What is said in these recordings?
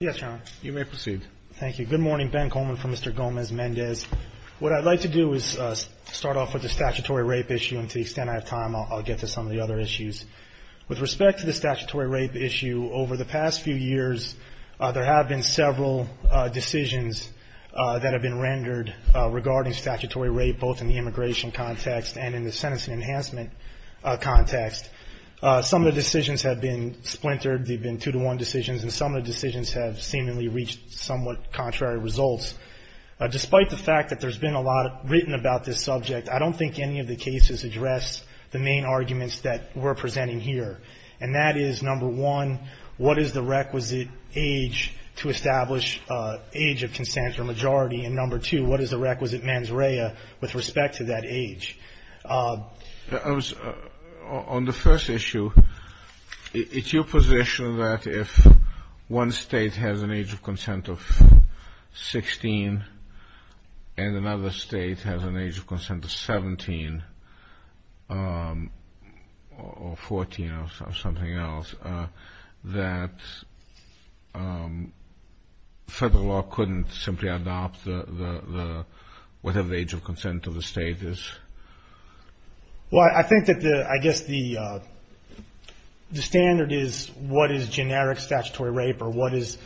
Good morning, Ben Coleman from Mr. Gomez-Mendez. What I'd like to do is start off with the statutory rape issue and to the extent I have time, I'll get to some of the other issues. With respect to the statutory rape issue, over the past few years, there have been several decisions that have been rendered regarding statutory rape, both in the immigration context and in the sentencing enhancement context. Some of the decisions have been splintered. They've been two-to-one decisions. And some of the decisions have seemingly reached somewhat contrary results. Despite the fact that there's been a lot written about this subject, I don't think any of the cases address the main arguments that we're presenting here. And that is, number one, what is the requisite age to establish age of consent for majority? And, number two, what is the requisite mens rea with respect to that age? On the first issue, it's your position that if one state has an age of consent of 16 and another state has an age of consent of 17 or 14 or something else, that federal law couldn't simply adopt whatever the age of consent of the state is. Well, I think that the, I guess the standard is what is generic statutory rape or what is,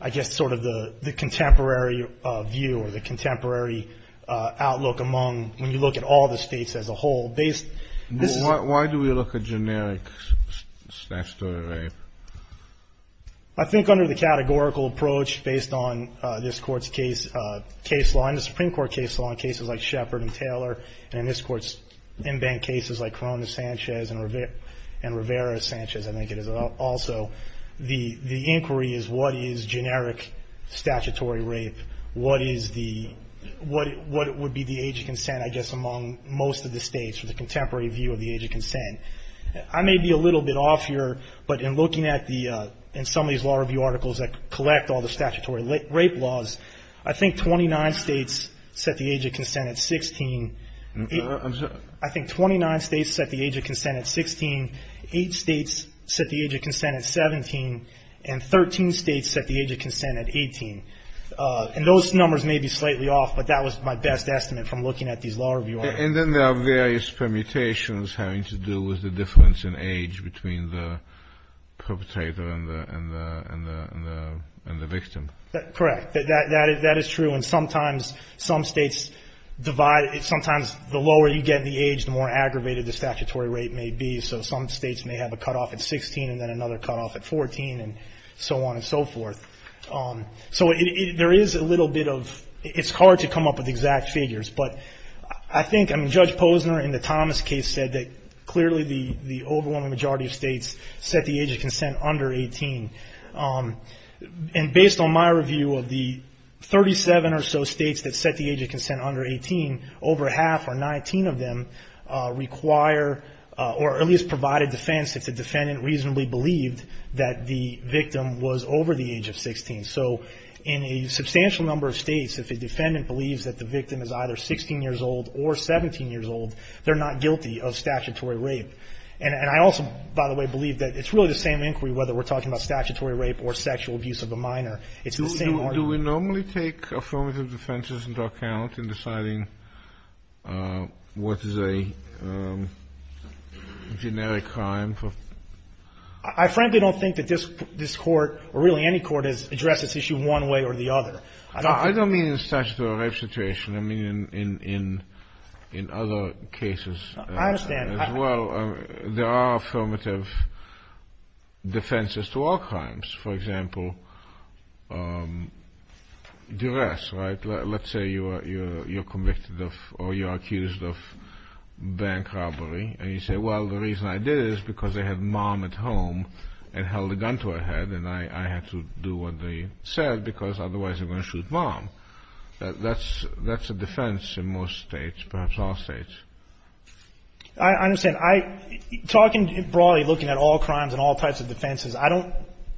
I guess, sort of the contemporary view or the contemporary outlook among, when you look at all the states as a whole. Why do we look at generic statutory rape? I think under the categorical approach based on this Court's case law and the Supreme Court case law in cases like Shepard and Taylor and in this Court's in-bank cases like Corona-Sanchez and Rivera-Sanchez, I think it is also, the inquiry is what is generic statutory rape? What is the, what would be the age of consent, I guess, among most of the states for the contemporary view of the age of consent? I may be a little bit off here, but in looking at the, in some of these law review articles that collect all the statutory rape laws, I think 29 states set the age of consent at 16. I think 29 states set the age of consent at 16. Eight states set the age of consent at 17. And 13 states set the age of consent at 18. And those numbers may be slightly off, but that was my best estimate from looking at these law review articles. And then there are various permutations having to do with the difference in age between the perpetrator and the victim. Correct. That is true. And sometimes some states divide, sometimes the lower you get in the age, the more aggravated the statutory rape may be. So some states may have a cutoff at 16 and then another cutoff at 14 and so on and so forth. So there is a little bit of, it's hard to come up with exact figures. But I think, I mean, Judge Posner in the Thomas case said that clearly the overwhelming majority of states set the age of consent under 18. And based on my review of the 37 or so states that set the age of consent under 18, over half or 19 of them require or at least provide a defense if the defendant reasonably believed that the victim was over the age of 16. So in a substantial number of states, if a defendant believes that the victim is either 16 years old or 17 years old, they're not guilty of statutory rape. And I also, by the way, believe that it's really the same inquiry whether we're talking about statutory rape or sexual abuse of a minor. It's the same inquiry. Do we normally take affirmative defenses into account in deciding what is a generic crime? I frankly don't think that this Court or really any court has addressed this issue one way or the other. I don't think that. I don't mean the statutory rape situation. I mean in other cases as well. I understand. There are affirmative defenses to all crimes. For example, duress, right? Let's say you're convicted of or you're accused of bank robbery, and you say, well, the reason I did it is because they had mom at home and held a gun to her head, and I had to do what they said because otherwise they're going to shoot mom. That's a defense in most states, perhaps all states. I understand. I'm talking broadly looking at all crimes and all types of defenses. I don't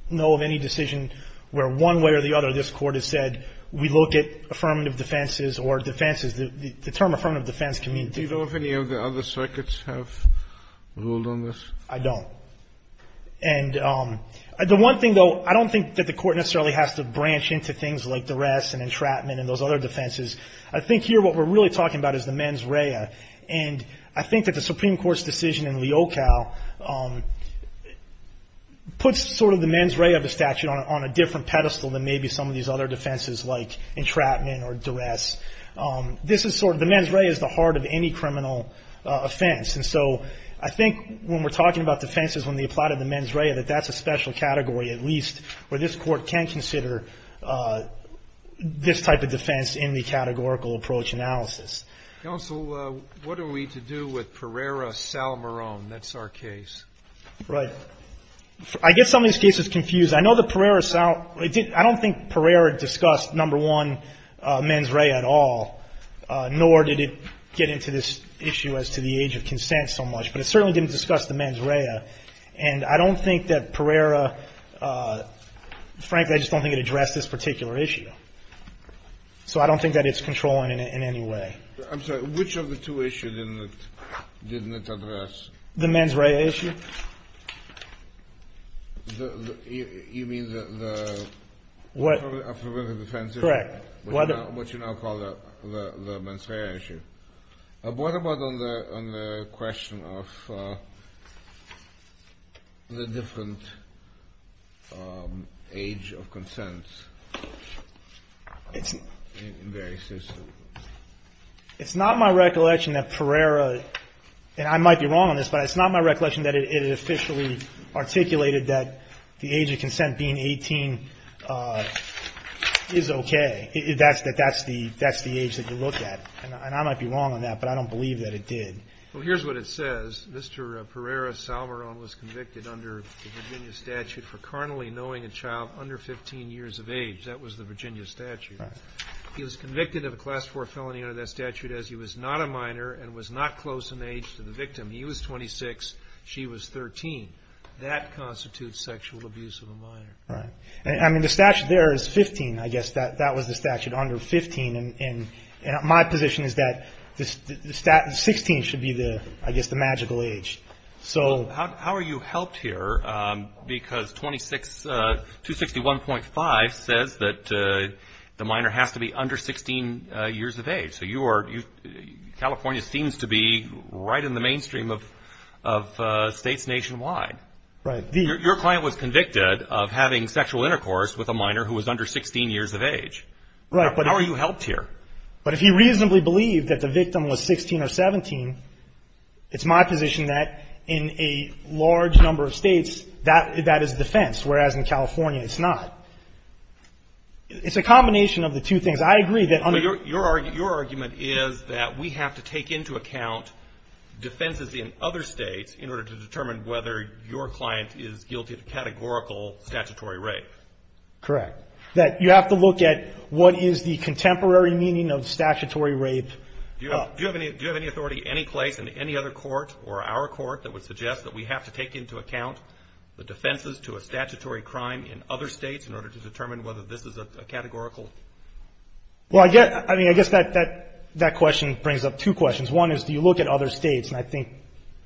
know of any decision where one way or the other this Court has said we look at affirmative defenses or defenses. The term affirmative defense can mean different. Do you know if any of the other circuits have ruled on this? I don't. And the one thing, though, I don't think that the Court necessarily has to branch into things like duress and entrapment and those other defenses. I think here what we're really talking about is the mens rea, and I think that the Supreme Court's decision in Leocal puts sort of the mens rea of the statute on a different pedestal than maybe some of these other defenses like entrapment or duress. This is sort of the mens rea is the heart of any criminal offense, and so I think when we're talking about defenses when they apply to the mens rea that that's a special category, at least where this Court can consider this type of defense in the categorical approach analysis. Counsel, what are we to do with Pereira-Salmeron? That's our case. Right. I guess some of these cases confuse. I know that Pereira-Salmeron, I don't think Pereira discussed, number one, mens rea at all, nor did it get into this issue as to the age of consent so much, but it certainly didn't discuss the mens rea. And I don't think that Pereira, frankly, I just don't think it addressed this particular issue. So I don't think that it's controlling in any way. I'm sorry. Which of the two issues didn't it address? The mens rea issue. You mean the affirmative defense issue? Correct. What you now call the mens rea issue. What about on the question of the different age of consent in various instances? It's not my recollection that Pereira, and I might be wrong on this, but it's not my recollection that it officially articulated that the age of consent being 18 is okay. That's the age that you look at. And I might be wrong on that, but I don't believe that it did. Well, here's what it says. Mr. Pereira-Salmeron was convicted under the Virginia statute for carnally knowing a child under 15 years of age. That was the Virginia statute. He was convicted of a Class IV felony under that statute as he was not a minor and was not close in age to the victim. He was 26. She was 13. That constitutes sexual abuse of a minor. Right. I mean, the statute there is 15, I guess. That was the statute, under 15. And my position is that 16 should be, I guess, the magical age. How are you helped here? Because 261.5 says that the minor has to be under 16 years of age. So California seems to be right in the mainstream of states nationwide. Right. Your client was convicted of having sexual intercourse with a minor who was under 16 years of age. Right. How are you helped here? But if you reasonably believe that the victim was 16 or 17, it's my position that in a large number of states, that is defense, whereas in California, it's not. It's a combination of the two things. I agree that under the ---- Correct. That you have to look at what is the contemporary meaning of statutory rape. Do you have any authority any place in any other court or our court that would suggest that we have to take into account the defenses to a statutory crime in other states in order to determine whether this is a categorical? Well, I guess, I mean, I guess that question brings up two questions. One is do you look at other states? And I think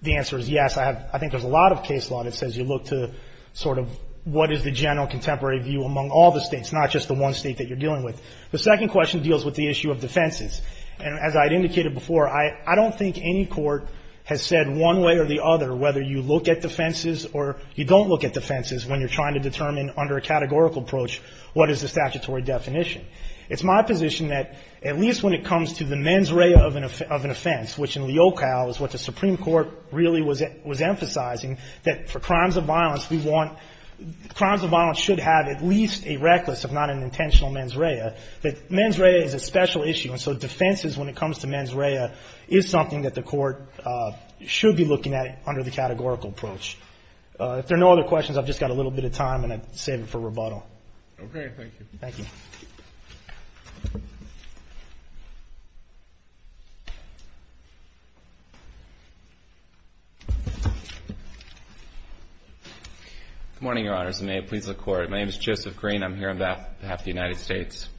the answer is yes. I have ---- I think there's a lot of case law that says you look to sort of what is the general contemporary view among all the states, not just the one state that you're dealing with. The second question deals with the issue of defenses. And as I had indicated before, I don't think any court has said one way or the other whether you look at defenses or you don't look at defenses when you're trying to determine under a categorical approach what is the statutory definition. It's my position that at least when it comes to the mens rea of an offense, which in Leocow is what the Supreme Court really was emphasizing, that for crimes of violence, we want ---- crimes of violence should have at least a reckless, if not an intentional, mens rea, that mens rea is a special issue. And so defenses, when it comes to mens rea, is something that the court should be looking at under the categorical approach. If there are no other questions, I've just got a little bit of time, and I'd save it for rebuttal. Okay. Thank you. Good morning, Your Honors, and may it please the Court. My name is Joseph Green. I'm here on behalf of the United States.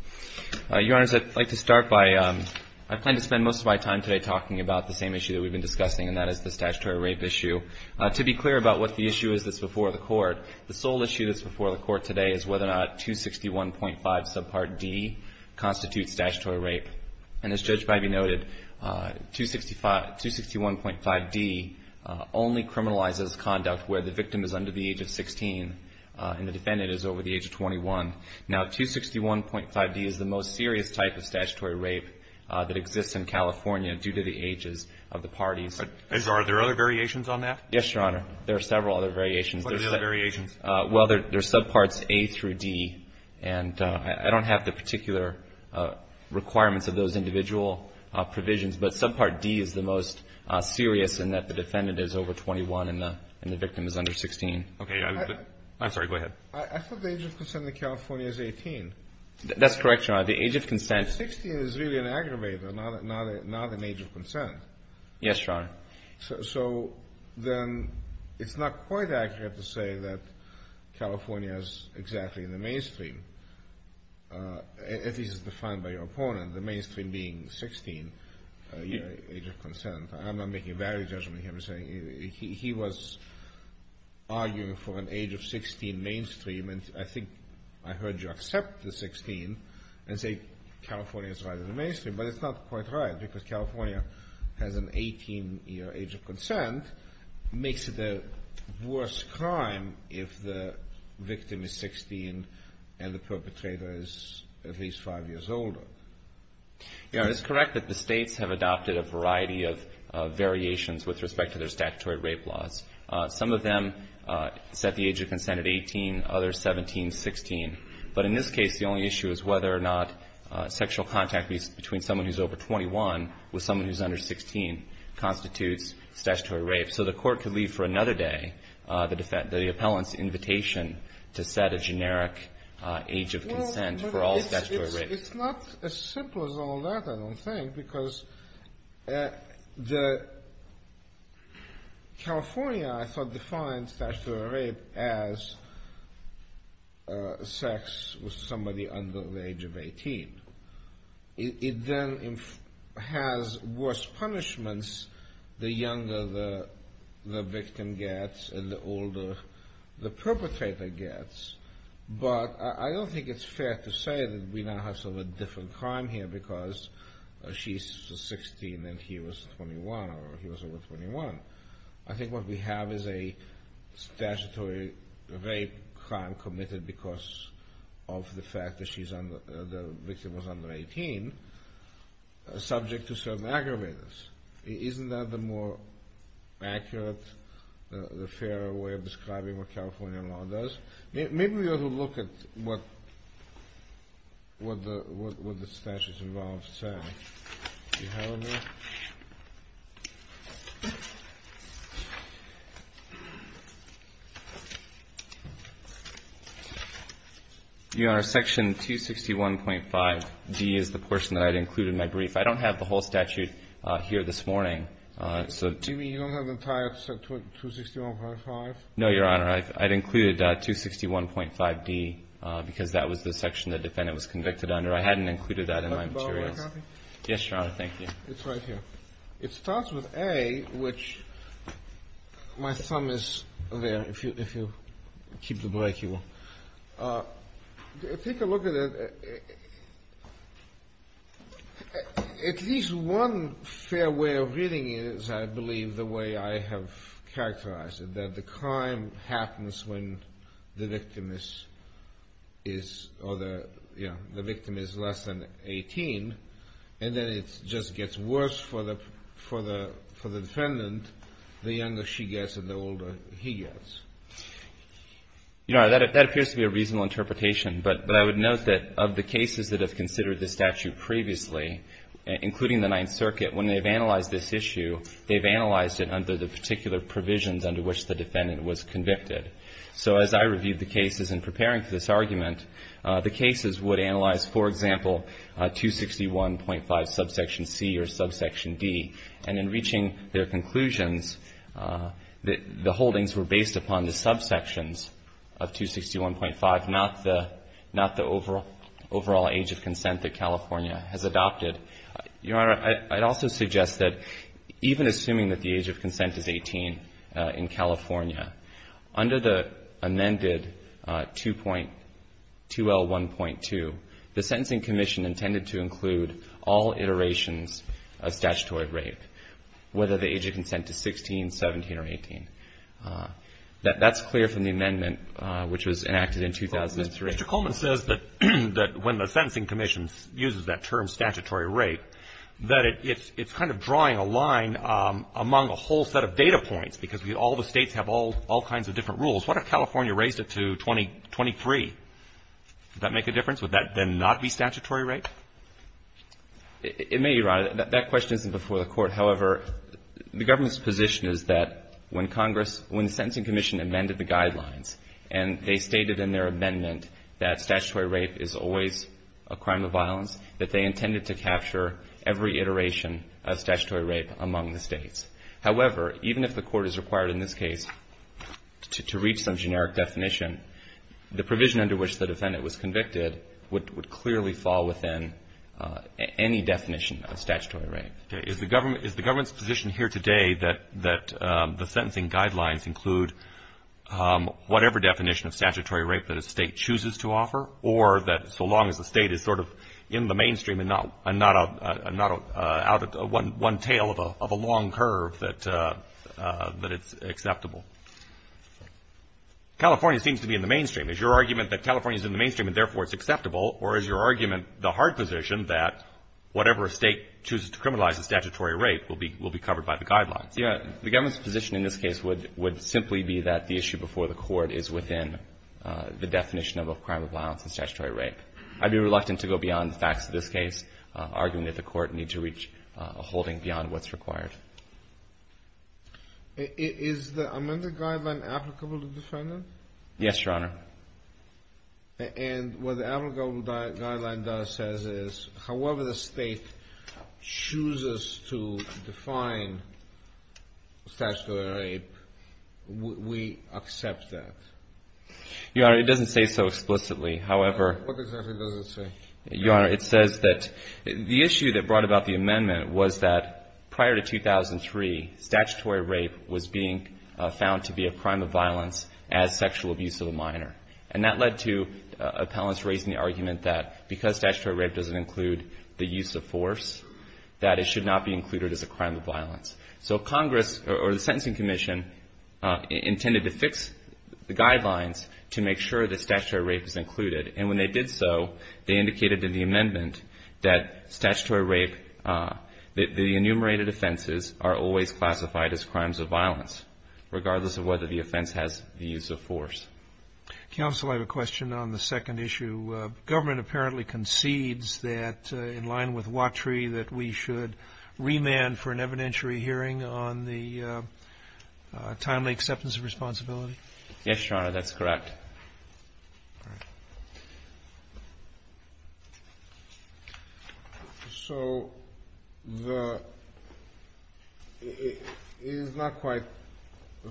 Your Honors, I'd like to start by ---- I plan to spend most of my time today talking about the same issue that we've been discussing, and that is the statutory rape issue. To be clear about what the issue is that's before the Court, the sole issue that's before the Court today is whether or not 261.5 subpart D constitutes statutory rape. And as Judge Biby noted, 261.5d only criminalizes conduct where the victim is under the age of 16 and the defendant is over the age of 21. Now, 261.5d is the most serious type of statutory rape that exists in California due to the ages of the parties. Are there other variations on that? Yes, Your Honor. There are several other variations. What are the other variations? Well, there's subparts A through D, and I don't have the particular requirements of those individual provisions, but subpart D is the most serious in that the defendant is over 21 and the victim is under 16. Okay. I'm sorry. Go ahead. I thought the age of consent in California is 18. That's correct, Your Honor. The age of consent ---- Yes, Your Honor. So then it's not quite accurate to say that California is exactly in the mainstream, at least as defined by your opponent, the mainstream being 16, the age of consent. I'm not making a valid judgment here. He was arguing for an age of 16 mainstream, and I think I heard you accept the 16 and say California is right in the mainstream. But it's not quite right because California has an 18-year age of consent. It makes it a worse crime if the victim is 16 and the perpetrator is at least 5 years older. Your Honor, it's correct that the States have adopted a variety of variations with respect to their statutory rape laws. Some of them set the age of consent at 18, others 17, 16. But in this case, the only issue is whether or not sexual contact between someone who's over 21 with someone who's under 16 constitutes statutory rape. So the Court could leave for another day the defendant, the appellant's invitation to set a generic age of consent for all statutory rapes. It's not as simple as all that, I don't think, because California, I thought, defines statutory rape as sex with somebody under the age of 18. It then has worse punishments the younger the victim gets and the older the perpetrator gets. But I don't think it's fair to say that we now have sort of a different crime here because she's 16 and he was 21 or he was over 21. I think what we have is a statutory rape crime committed because of the fact that the victim was under 18, subject to certain aggravators. Isn't that the more accurate, the fairer way of describing what California law does? Maybe we ought to look at what the statutes involved say. Do you have any? Your Honor, Section 261.5d is the portion that I'd include in my brief. I don't have the whole statute here this morning. Do you mean you don't have the entire 261.5? No, Your Honor. I'd include 261.5d because that was the section the defendant was convicted under. I hadn't included that in my materials. Yes, Your Honor. Thank you. It's right here. It starts with A, which my thumb is there. If you keep the break, you will. Take a look at it. At least one fair way of reading it is, I believe, the way I have characterized it, that the crime happens when the victim is or the, you know, the victim is less than 18, and then it just gets worse for the defendant the younger she gets and the older he gets. Your Honor, that appears to be a reasonable interpretation. But I would note that of the cases that have considered this statute previously, including the Ninth Circuit, when they've analyzed this issue, they've analyzed it under the particular provisions under which the defendant was convicted. So as I reviewed the cases in preparing for this argument, the cases would analyze, for example, 261.5 subsection C or subsection D. And in reaching their conclusions, the holdings were based upon the subsections of 261.5, not the overall age of consent that California has adopted. Your Honor, I'd also suggest that even assuming that the age of consent is 18 in California, under the amended 2.2L1.2, the Sentencing Commission intended to include all iterations of statutory rape, whether the age of consent is 16, 17, or 18. That's clear from the amendment which was enacted in 2003. Mr. Coleman says that when the Sentencing Commission uses that term statutory rape, that it's kind of drawing a line among a whole set of data points, because all the States have all kinds of different rules. What if California raised it to 2023? Would that make a difference? Would that then not be statutory rape? It may, Your Honor. That question isn't before the Court. However, the government's position is that when Congress, when the Sentencing Commission amended the guidelines that they intended to capture every iteration of statutory rape among the States. However, even if the Court is required in this case to read some generic definition, the provision under which the defendant was convicted would clearly fall within any definition of statutory rape. Okay. Is the government's position here today that the sentencing guidelines include whatever definition of statutory rape that a State and not out of one tail of a long curve that it's acceptable? California seems to be in the mainstream. Is your argument that California is in the mainstream and therefore it's acceptable, or is your argument the hard position that whatever a State chooses to criminalize as statutory rape will be covered by the guidelines? Yes. The government's position in this case would simply be that the issue before the Court is within the definition of a crime of violence and statutory rape. I'd be reluctant to go beyond the facts of this case, argument that the Court needs to reach a holding beyond what's required. Is the amended guideline applicable to the defendant? Yes, Your Honor. And what the applicable guideline does is however the State chooses to define statutory rape, we accept that? Your Honor, it doesn't say so explicitly. What exactly does it say? Your Honor, it says that the issue that brought about the amendment was that prior to 2003, statutory rape was being found to be a crime of violence as sexual abuse of a minor. And that led to appellants raising the argument that because statutory rape doesn't include the use of force, that it should not be included as a crime of violence. So Congress or the Sentencing Commission intended to fix the guidelines to make sure that statutory rape is included. And when they did so, they indicated in the amendment that statutory rape, the enumerated offenses are always classified as crimes of violence, regardless of whether the offense has the use of force. Counsel, I have a question on the second issue. Government apparently concedes that, in line with Watry, that we should remand for an evidentiary hearing on the timely acceptance of responsibility? Yes, Your Honor. That's correct. All right. So it is not quite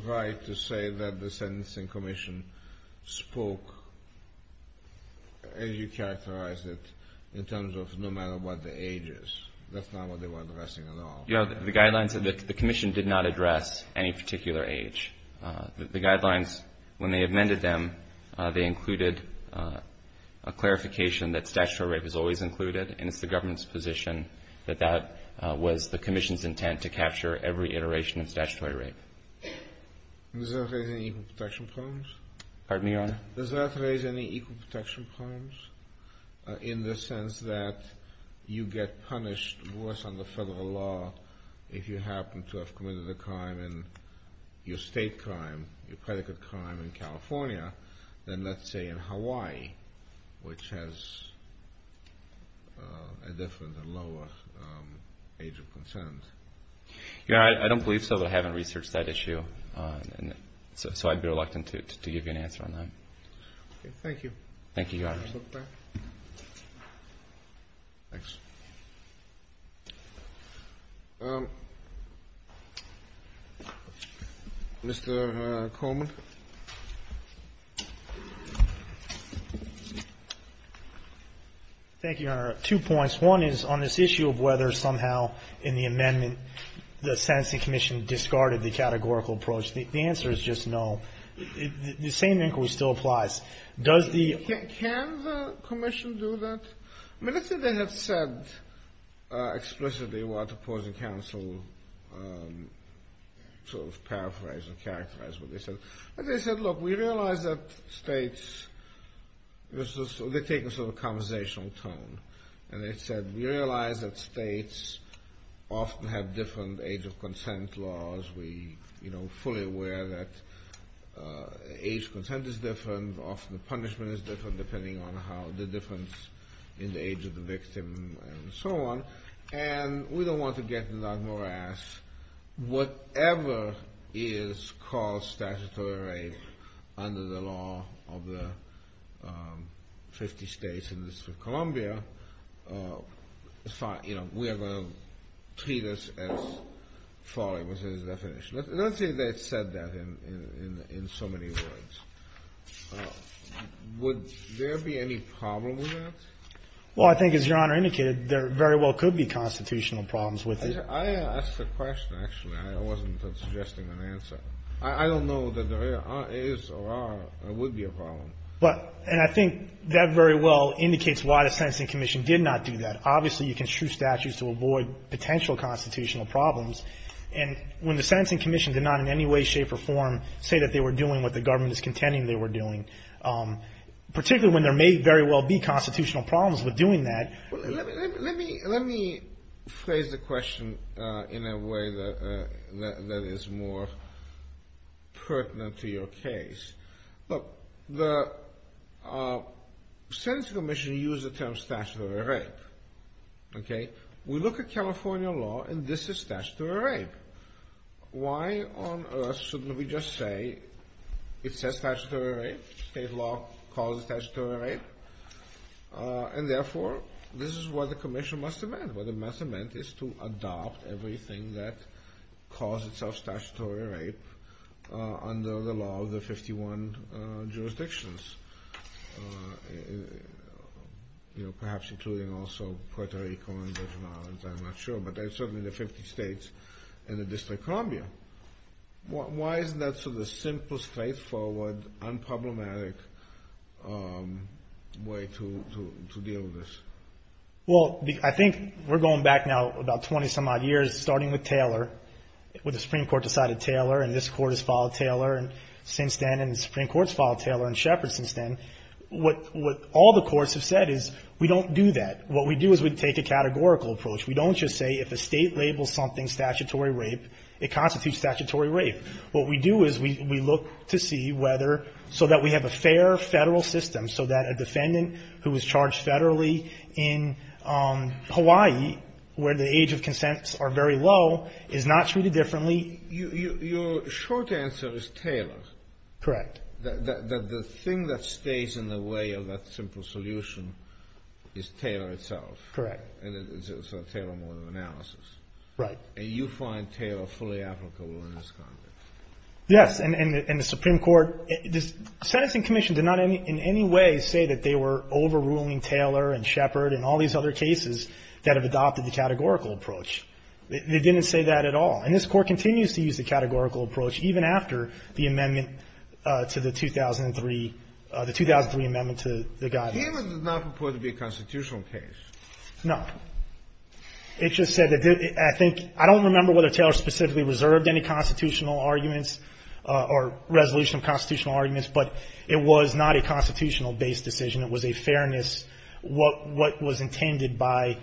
right to say that the Sentencing Commission spoke, as you characterized it, in terms of no matter what the age is. That's not what they were addressing at all. Your Honor, the guidelines that the commission did not address any particular age. The guidelines, when they amended them, they included a clarification that statutory rape is always included, and it's the government's position that that was the commission's intent to capture every iteration of statutory rape. Does that raise any equal protection problems? Pardon me, Your Honor? Does that raise any equal protection problems in the sense that you get punished worse under federal law if you happen to have committed a crime in your state crime, your predicate crime in California, than let's say in Hawaii, which has a different and lower age of consent? Your Honor, I don't believe so, but I haven't researched that issue. So I'd be reluctant to give you an answer on that. Okay. Thank you. Thank you, Your Honor. Mr. Coleman. Thank you, Your Honor. Two points. One is on this issue of whether somehow in the amendment the sentencing commission discarded the categorical approach. The answer is just no. The same inquiry still applies. Can the commission do that? I mean, let's say they have said explicitly what opposing counsel sort of paraphrased and characterized what they said. They said, look, we realize that states, they take a sort of conversational tone, and they said we realize that states often have different age of consent laws. We are fully aware that age of consent is different. Often the punishment is different depending on the difference in the age of the victim and so on. And we don't want to get into that morass. Whatever is called statutory rape under the law of the 50 states in the District of Columbia, you know, we are going to treat this as falling within its definition. Let's say they said that in so many words. Would there be any problem with that? Well, I think, as Your Honor indicated, there very well could be constitutional problems with it. I asked a question, actually. I wasn't suggesting an answer. I don't know that there is or would be a problem. But, and I think that very well indicates why the Sentencing Commission did not do that. Obviously, you can choose statutes to avoid potential constitutional problems. And when the Sentencing Commission did not in any way, shape or form say that they were doing what the government is contending they were doing, particularly when there may very well be constitutional problems with doing that. Let me phrase the question in a way that is more pertinent to your case. Look, the Sentencing Commission used the term statutory rape. Okay? We look at California law and this is statutory rape. Why on earth shouldn't we just say it says statutory rape? State law calls it statutory rape. And therefore, this is what the Commission must amend. What it must amend is to adopt everything that calls itself statutory rape under the law of the 51 jurisdictions, perhaps including also Puerto Rico and the Virgin Islands. I'm not sure. But certainly the 50 states and the District of Columbia. Why isn't that sort of the simplest, straightforward, unproblematic way to deal with this? Well, I think we're going back now about 20 some odd years, starting with Taylor, when the Supreme Court decided Taylor and this Court has filed Taylor since then and the Supreme Court has filed Taylor and Shepard since then. What all the courts have said is we don't do that. What we do is we take a categorical approach. We don't just say if a state labels something statutory rape, it constitutes statutory rape. What we do is we look to see whether, so that we have a fair Federal system, so that a defendant who is charged Federally in Hawaii, where the age of consents are very low, is not treated differently. Your short answer is Taylor. Correct. The thing that stays in the way of that simple solution is Taylor itself. Correct. It's a Taylor model of analysis. Right. And you find Taylor fully applicable in this context. Yes. And the Supreme Court, the Sentencing Commission did not in any way say that they were overruling Taylor and Shepard and all these other cases that have adopted the categorical approach. They didn't say that at all. And this Court continues to use the categorical approach even after the amendment to the 2003, the 2003 amendment to the guidance. Taylor does not purport to be a constitutional case. No. It just said that I think, I don't remember whether Taylor specifically reserved any constitutional arguments or resolution of constitutional arguments, but it was not a constitutional-based decision. It was a fairness, what was intended by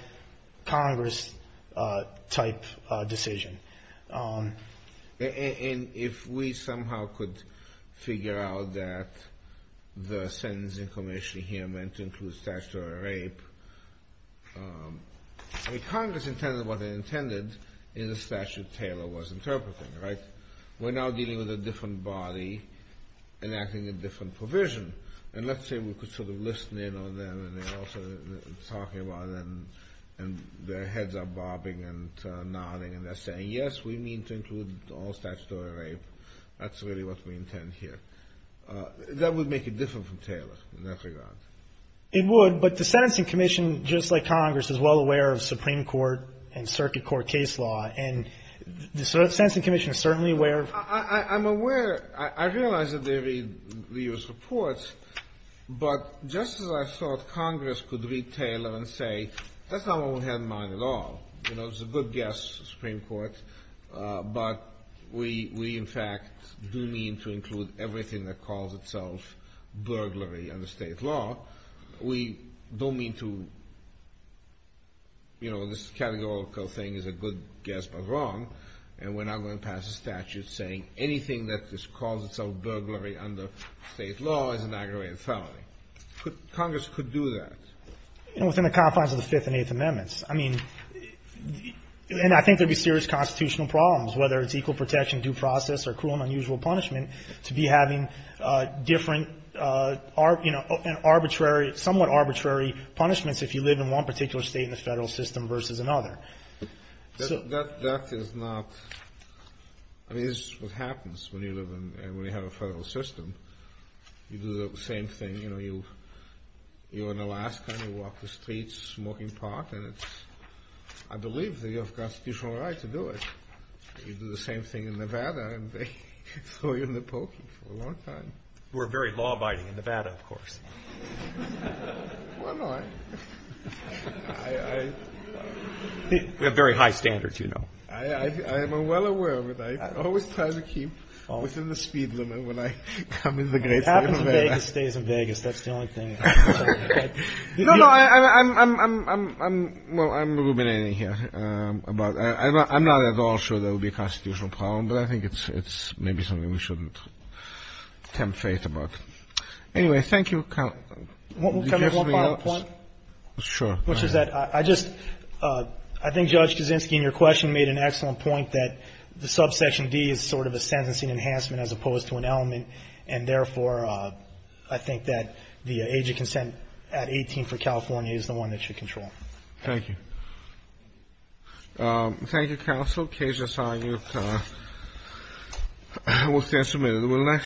Congress-type decision. And if we somehow could figure out that the Sentencing Commission here meant to Congress intended what they intended in the statute Taylor was interpreting, right? We're now dealing with a different body enacting a different provision. And let's say we could sort of listen in on them and they're all sort of talking about it and their heads are bobbing and nodding and they're saying, yes, we mean to include all statutory rape. That's really what we intend here. That would make it different from Taylor in that regard. It would, but the Sentencing Commission, just like Congress, is well aware of Supreme Court and circuit court case law. And the Sentencing Commission is certainly aware of that. I'm aware. I realize that they read the U.S. reports, but just as I thought Congress could read Taylor and say, that's not what we had in mind at all. You know, it was a good guess, the Supreme Court, but we in fact do mean to include everything that calls itself burglary under state law. We don't mean to, you know, this categorical thing is a good guess but wrong, and we're not going to pass a statute saying anything that calls itself burglary under state law is an aggravated felony. Congress could do that. And within the confines of the Fifth and Eighth Amendments. I mean, and I think there would be serious constitutional problems, whether it's equal protection, due process, or cruel and unusual punishment, to be having different, you know, arbitrary, somewhat arbitrary punishments if you live in one particular state in the Federal system versus another. So. That is not. I mean, this is what happens when you live in, when you have a Federal system. You do the same thing. You know, you're in Alaska and you walk the streets smoking pot, and it's, I believe that you have constitutional right to do it. You do the same thing in Nevada, and they throw you in the pokey for a long time. We're very law-abiding in Nevada, of course. Well, no, I. I. We have very high standards, you know. I am well aware of it. I always try to keep within the speed limit when I come in the great state of Nevada. If it happens in Vegas, stay in Vegas. That's the only thing. No, no. I'm, well, I'm ruminating here. I'm not at all sure that would be a constitutional problem, but I think it's maybe something we shouldn't tempt fate about. Anyway, thank you. Can I make one final point? Sure. Which is that I just, I think Judge Kaczynski in your question made an excellent point that the subsection D is sort of a sentencing enhancement as opposed to an element, and therefore, I think that the age of consent at 18 for California is the one that should control. Thank you. Thank you, counsel. Case assigned. We'll stand submitted.